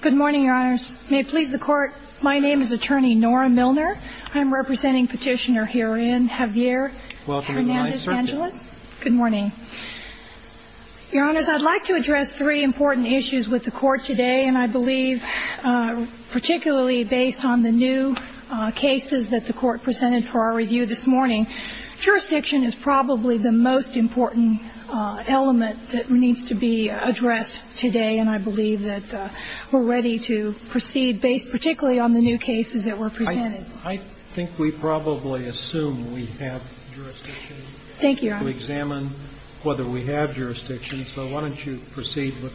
Good morning, Your Honors. May it please the Court, my name is Attorney Nora Milner. I'm representing Petitioner herein, Javier Hern-Angeles. Good morning. Your Honors, I'd like to address three important issues with the Court today, and I believe particularly based on the new cases that the Court presented for our review this morning. Jurisdiction is probably the most important element that needs to be addressed today, and I believe that we're ready to proceed based particularly on the new cases that were presented. I think we probably assume we have jurisdiction. Thank you, Your Honor. To examine whether we have jurisdiction, so why don't you proceed with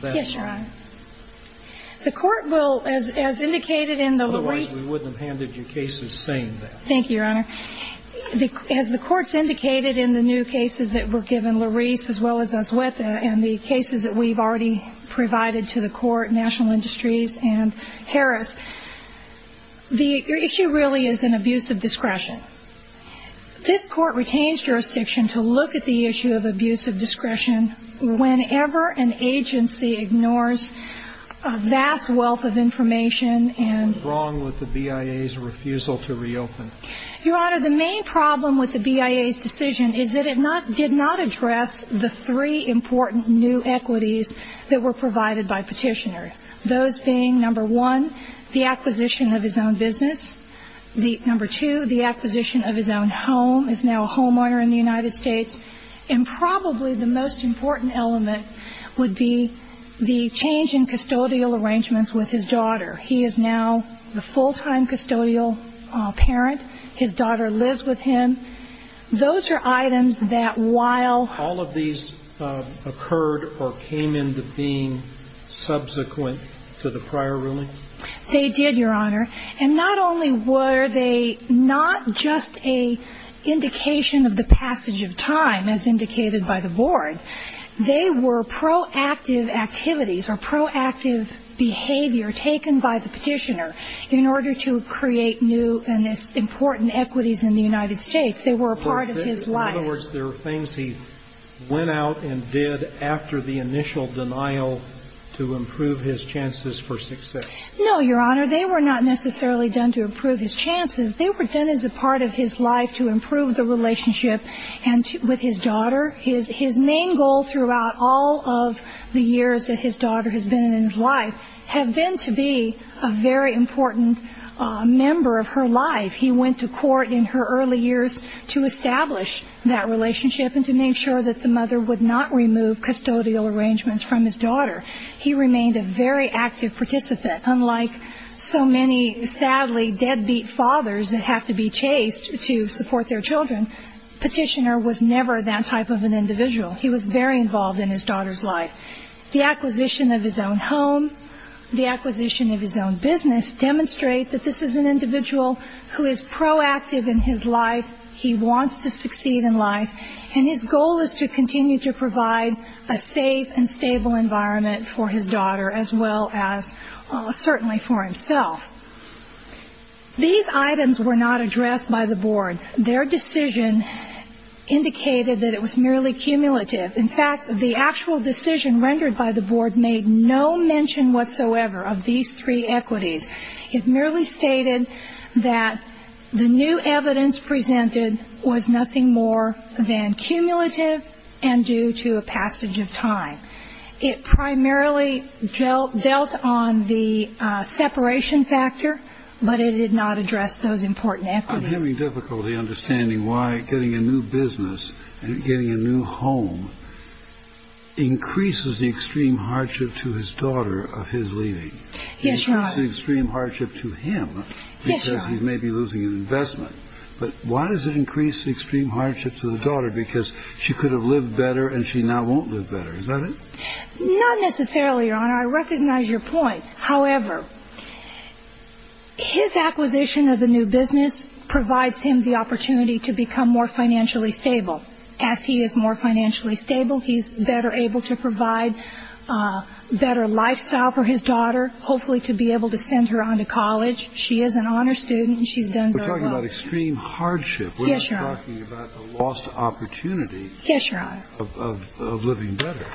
that line. Yes, Your Honor. The Court will, as indicated in the release Otherwise we wouldn't have handed you cases saying that. Thank you, Your Honor. As the Court's indicated in the new cases that were given, Larise, as well as Azweta, and the cases that we've already provided to the Court, National Industries and Harris, the issue really is an abuse of discretion. This Court retains jurisdiction to look at the issue of abuse of discretion whenever an agency ignores a vast wealth of information and information. And I think that's what's wrong with the BIA's refusal to reopen. Your Honor, the main problem with the BIA's decision is that it did not address the three important new equities that were provided by Petitioner, those being, number one, the acquisition of his own business, number two, the acquisition of his own home, is now a homeowner in the United States, and probably the most important element would be the change in custodial arrangements with his daughter. He is now the full-time custodial parent. His daughter lives with him. Those are items that while All of these occurred or came into being subsequent to the prior ruling? They did, Your Honor. And not only were they not just an indication of the passage of time, as indicated by the Board, they were proactive activities or proactive behavior taken by the Petitioner in order to create new and important equities in the United States. They were a part of his life. In other words, they were things he went out and did after the initial denial to improve his chances for success? No, Your Honor. They were not necessarily done to improve his chances. They were done as a part of his life to improve the relationship with his daughter. His main goal throughout all of the years that his daughter has been in his life has been to be a very important member of her life. He went to court in her early years to establish that relationship and to make sure that the mother would not remove custodial arrangements from his daughter. He remained a very active participant, unlike so many, sadly, deadbeat fathers that have to be chased to support their children. Petitioner was never that type of an individual. He was very involved in his daughter's life. The acquisition of his own home, the acquisition of his own business, demonstrate that this is an individual who is proactive in his life. He wants to succeed in life. And his goal is to continue to provide a safe and stable environment for his daughter, as well as certainly for himself. These items were not addressed by the Board. Their decision indicated that it was merely cumulative. In fact, the actual decision rendered by the Board made no mention whatsoever of these three equities. It merely stated that the new evidence presented was nothing more than cumulative and due to a passage of time. It primarily dealt on the separation factor but it did not address those important equities. I'm having difficulty understanding why getting a new business and getting a new home increases the extreme hardship to his daughter of his leaving. Yes, Your Honor. It increases the extreme hardship to him because he may be losing an investment. But why does it increase the extreme hardship to the daughter? Because she could have lived better and she now won't live better. Is that it? Not necessarily, Your Honor. I recognize your point. However, his acquisition of the new business provides him the opportunity to become more financially stable. As he is more financially stable, he's better able to provide a better lifestyle for his daughter, hopefully to be able to send her on to college. She is an honor student and she's done very well. We're talking about extreme hardship. Yes, Your Honor. We're not talking about a lost opportunity of living better.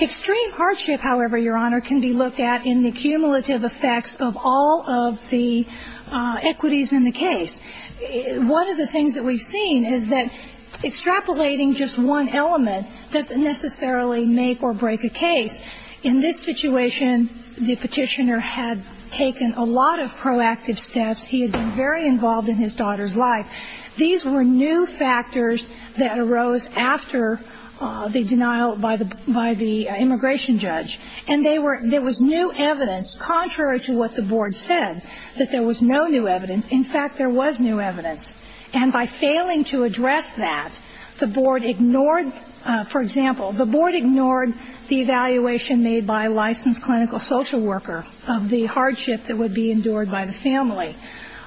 Extreme hardship, however, Your Honor, can be looked at in the cumulative effects of all of the equities in the case. One of the things that we've seen is that extrapolating just one element doesn't necessarily make or break a case. In this situation, the petitioner had taken a lot of proactive steps. He had been very involved in his daughter's life. These were new factors that arose after the denial by the immigration judge. And there was new evidence, contrary to what the board said, that there was no new evidence. In fact, there was new evidence. And by failing to address that, the board ignored, for example, the board ignored the evaluation made by a licensed clinical social worker of the hardship that would be endured by the family.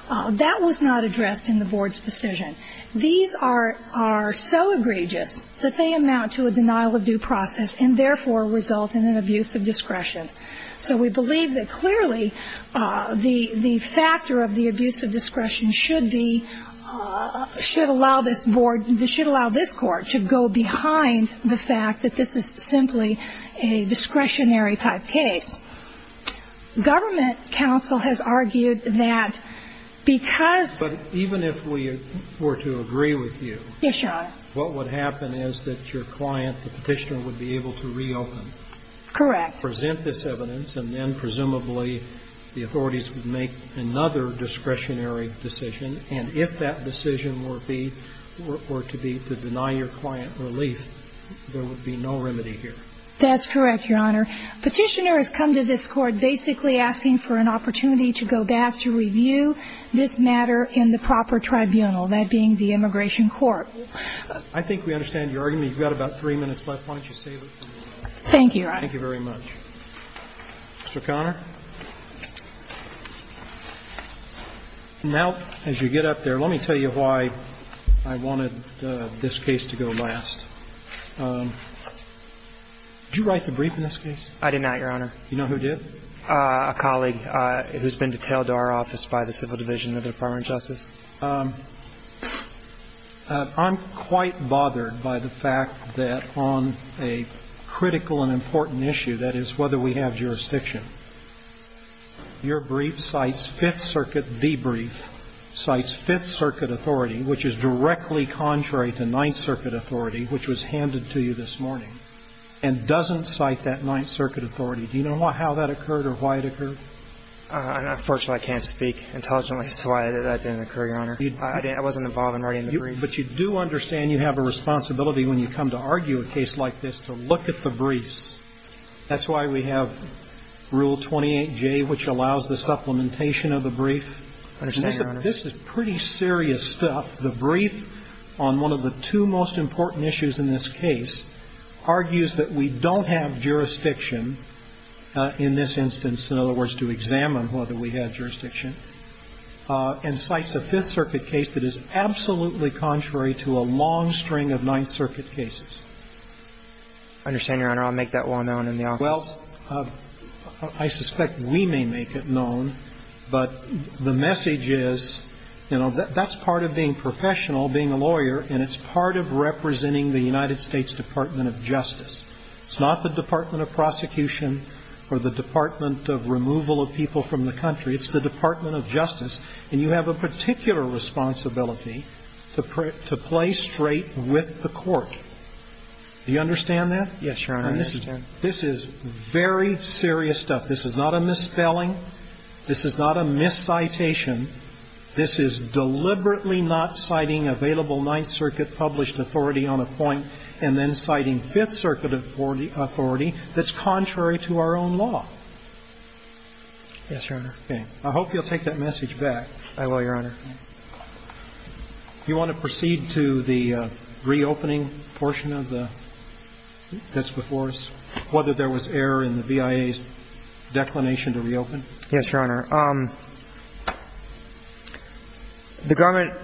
That was not addressed in the board's decision. These are so egregious that they amount to a denial of due process and therefore result in an abuse of discretion. So we believe that clearly the factor of the abuse of discretion should be, should allow this board, should allow this Court to go behind the fact that this is simply a discretionary-type case. Government counsel has argued that because... But even if we were to agree with you... Yes, Your Honor. ...what would happen is that your client, the petitioner, would be able to reopen... Correct. ...present this evidence, and then presumably the authorities would make another discretionary decision. And if that decision were to be to deny your client relief, there would be no remedy here. That's correct, Your Honor. Petitioner has come to this Court basically asking for an opportunity to go back to review this matter in the proper tribunal, that being the immigration court. I think we understand your argument. You've got about three minutes left. Why don't you stay with me? Thank you, Your Honor. Thank you very much. Mr. Conner. Now, as you get up there, let me tell you why I wanted this case to go last. Did you write the brief in this case? I did not, Your Honor. Do you know who did? A colleague who's been detailed to our office by the Civil Division of the Department of Justice. I'm quite bothered by the fact that on a critical and important issue, that is, whether we have jurisdiction, your brief cites Fifth Circuit debrief, cites Fifth Circuit authority, which is directly contrary to Ninth Circuit authority, which was handed to you this morning, and doesn't cite that Ninth Circuit authority. Do you know how that occurred or why it occurred? Unfortunately, I can't speak intelligently as to why that didn't occur, Your Honor. I wasn't involved in writing the brief. But you do understand you have a responsibility when you come to argue a case like this to look at the briefs. That's why we have Rule 28J, which allows the supplementation of the brief. I understand, Your Honor. This is pretty serious stuff. The brief on one of the two most important issues in this case argues that we don't have jurisdiction in this instance, in other words, to examine whether we have jurisdiction, and cites a Fifth Circuit case that is absolutely contrary to a long string of Ninth Circuit cases. I understand, Your Honor. I'll make that well known in the office. Well, I suspect we may make it known. But the message is, you know, that's part of being professional, being a lawyer, and it's part of representing the United States Department of Justice. It's not the Department of Prosecution or the Department of Removal of People from the Country. It's the Department of Justice. And you have a particular responsibility to play straight with the court. Do you understand that? Yes, Your Honor. I understand. This is very serious stuff. This is not a misspelling. This is not a miscitation. This is deliberately not citing available Ninth Circuit published authority on a point and then citing Fifth Circuit authority that's contrary to our own law. Yes, Your Honor. Okay. I hope you'll take that message back. I will, Your Honor. You want to proceed to the reopening portion of this before us, whether there was error in the VIA's declination to reopen? Yes, Your Honor. The government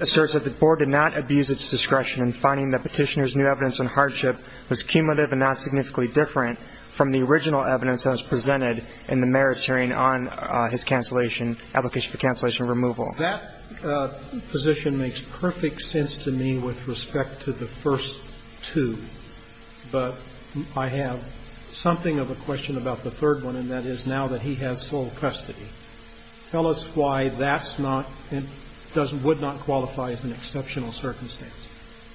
asserts that the board did not abuse its discretion in finding that Petitioner's new evidence on hardship was cumulative and not significantly different from the original evidence that was presented in the merits hearing on his cancellation, application for cancellation removal. That position makes perfect sense to me with respect to the first two, but I have something of a question about the third one, and that is now that he has sole custody. Tell us why that's not and would not qualify as an exceptional circumstance.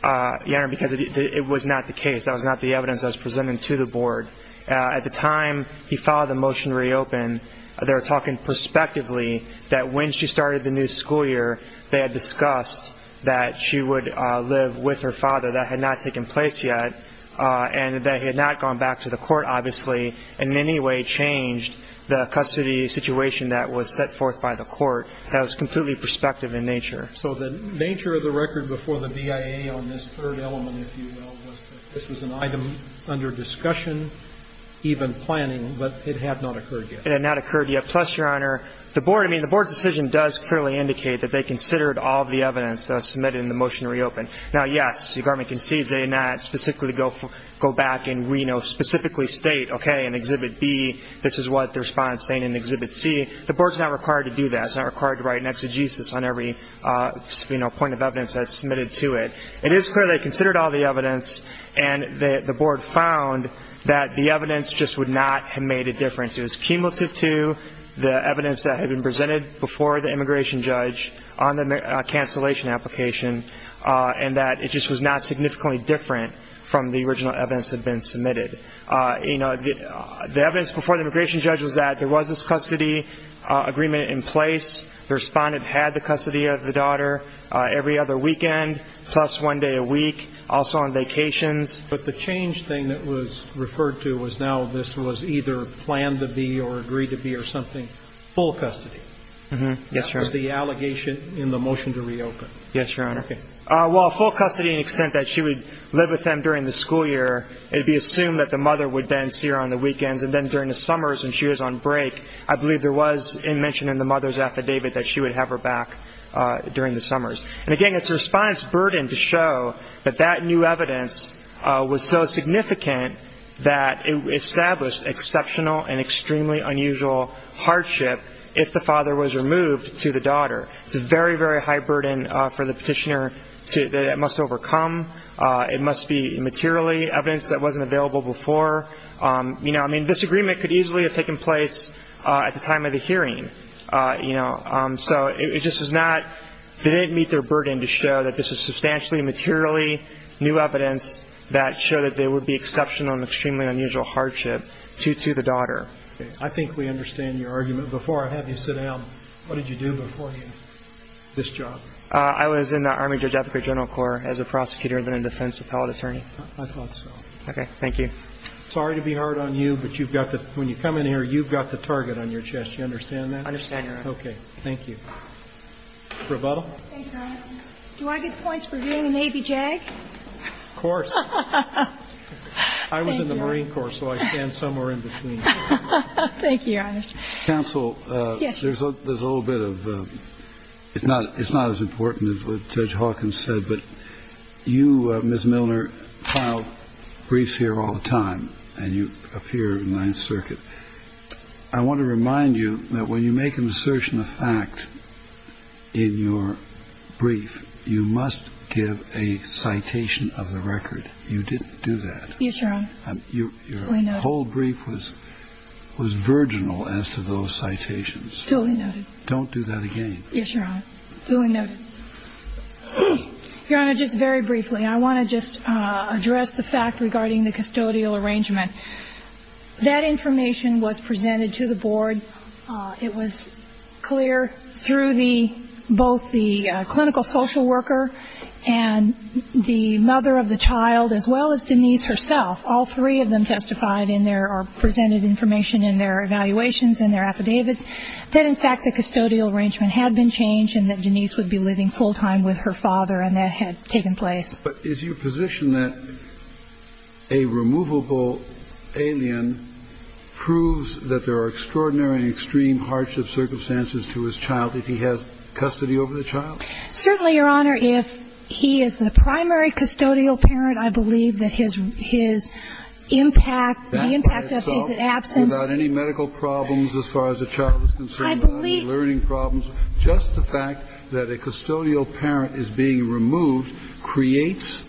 Your Honor, because it was not the case. That was not the evidence that was presented to the board. At the time he filed the motion to reopen, they were talking prospectively that when she started the new school year, they had discussed that she would live with her father. That had not taken place yet, and that he had not gone back to the court, obviously, and in any way changed the custody situation that was set forth by the court. That was completely prospective in nature. So the nature of the record before the VIA on this third element, if you will, was that this was an item under discussion, even planning, but it had not occurred yet. Plus, Your Honor, the board's decision does clearly indicate that they considered all of the evidence that was submitted in the motion to reopen. Now, yes, the government concedes they did not specifically go back and specifically state, okay, in Exhibit B, this is what the respondent is saying in Exhibit C. The board is not required to do that. It's not required to write an exegesis on every point of evidence that's submitted to it. It is clear they considered all the evidence, and the board found that the evidence just would not have made a difference. It was cumulative to the evidence that had been presented before the immigration judge on the cancellation application and that it just was not significantly different from the original evidence that had been submitted. You know, the evidence before the immigration judge was that there was this custody agreement in place. The respondent had the custody of the daughter every other weekend, plus one day a week, also on vacations. But the change thing that was referred to was now this was either planned to be or agreed to be or something, full custody. Yes, Your Honor. That was the allegation in the motion to reopen. Yes, Your Honor. Okay. Well, full custody in the extent that she would live with them during the school year, it would be assumed that the mother would then see her on the weekends, and then during the summers when she was on break, I believe there was a mention in the mother's affidavit that she would have her back during the summers. And again, it's the respondent's burden to show that that new evidence was so significant that it established exceptional and extremely unusual hardship if the father was removed to the daughter. It's a very, very high burden for the petitioner that it must overcome. It must be materially evidence that wasn't available before. I mean, this agreement could easily have taken place at the time of the hearing. So it just was not they didn't meet their burden to show that this was substantially materially new evidence that showed that there would be exceptional and extremely unusual hardship to the daughter. Okay. I think we understand your argument. Before I have you sit down, what did you do before this job? I was in the Army Judge Advocate General Corps as a prosecutor and then a defense appellate attorney. I thought so. Okay. Thank you. Sorry to be hard on you, but when you come in here, you've got the target on your chest. You understand that? I understand, Your Honor. Okay. Thank you. Rebuttal? Thank you, Your Honor. Do I get points for being a Navy JAG? Of course. Thank you. I was in the Marine Corps, so I stand somewhere in between. Thank you, Your Honor. Counsel. Yes. There's a little bit of it's not as important as what Judge Hawkins said, but you, Ms. Milner, file briefs here all the time, and you appear in Ninth Circuit. I want to remind you that when you make an assertion of fact in your brief, you must give a citation of the record. You didn't do that. Yes, Your Honor. Your whole brief was virginal as to those citations. Fully noted. Don't do that again. Yes, Your Honor. Fully noted. Your Honor, just very briefly, I want to just address the fact regarding the custodial arrangement. That information was presented to the board. It was clear through both the clinical social worker and the mother of the child, as well as Denise herself. All three of them testified in their or presented information in their evaluations and their affidavits that, in fact, the custodial arrangement had been changed and that Denise would be living full time with her father, and that had taken place. But is your position that a removable alien proves that there are extraordinary and extreme hardship circumstances to his child if he has custody over the child? Certainly, Your Honor. If he is the primary custodial parent, I believe that his impact, the impact of his absence. Without any medical problems as far as the child is concerned? I believe. Just the fact that a custodial parent is being removed creates,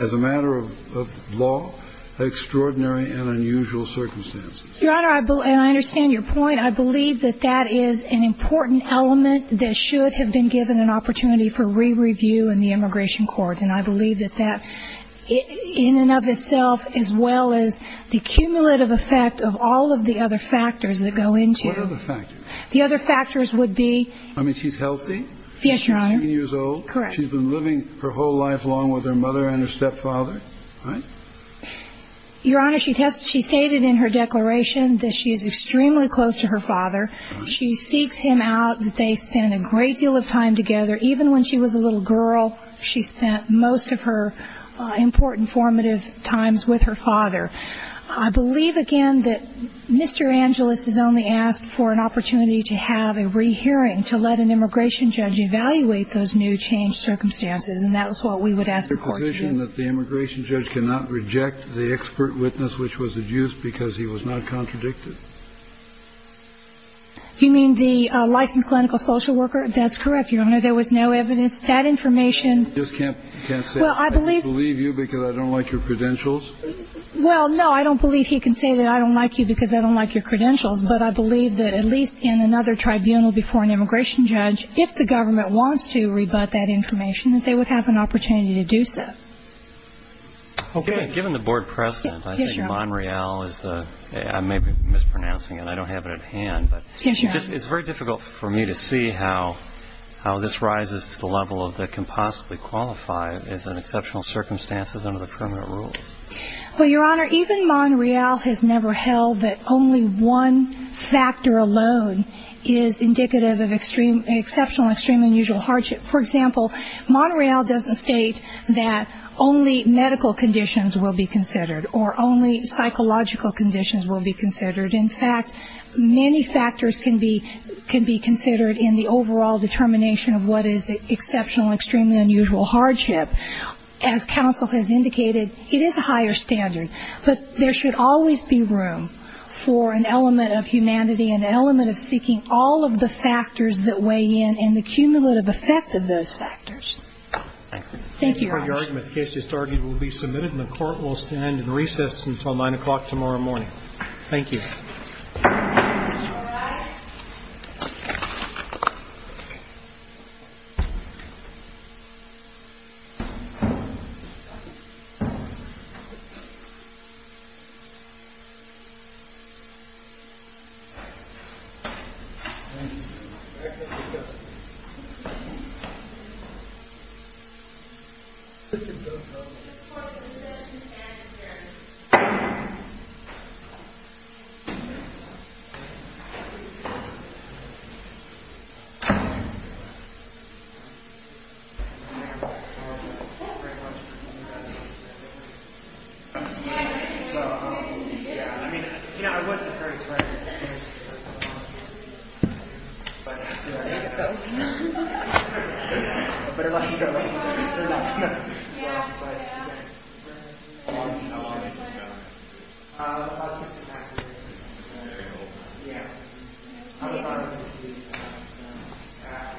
as a matter of law, extraordinary and unusual circumstances. Your Honor, and I understand your point. I believe that that is an important element that should have been given an opportunity for re-review in the immigration court. And I believe that that, in and of itself, as well as the cumulative effect of all of the other factors that go into. What are the factors? The other factors would be. I mean, she's healthy. Yes, Your Honor. She's 18 years old. Correct. She's been living her whole life along with her mother and her stepfather, right? Your Honor, she stated in her declaration that she is extremely close to her father. She seeks him out. They spend a great deal of time together. Even when she was a little girl, she spent most of her important formative times with her father. I believe, again, that Mr. Angelis has only asked for an opportunity to have a re-hearing to let an immigration judge evaluate those new changed circumstances. And that was what we would ask the court to do. It's the conclusion that the immigration judge cannot reject the expert witness which was adduced because he was not contradicted. You mean the licensed clinical social worker? That's correct, Your Honor. There was no evidence. That information. I just can't say I believe you because I don't like your credentials. Well, no, I don't believe he can say that I don't like you because I don't like your credentials. But I believe that at least in another tribunal before an immigration judge, if the government wants to rebut that information, that they would have an opportunity to do so. Okay. Given the board precedent, I think Monreal is the – I may be mispronouncing it. I don't have it at hand. But it's very difficult for me to see how this rises to the level of that can possibly qualify as an exceptional circumstances under the permanent rules. Well, Your Honor, even Monreal has never held that only one factor alone is indicative of exceptional extreme unusual hardship. For example, Monreal doesn't state that only medical conditions will be considered or only psychological conditions will be considered. In fact, many factors can be considered in the overall determination of what is exceptional extremely unusual hardship. As counsel has indicated, it is a higher standard. But there should always be room for an element of humanity, an element of seeking all of the factors that weigh in and the cumulative effect of those factors. Thank you, Your Honor. Thank you for your argument. The case just argued will be submitted, and the court will stand in recess until 9 o'clock tomorrow morning. Thank you. Very cool. Yeah. I'll be honored. Thank you. Thank you. Thank you. Thank you. Thank you. Thank you.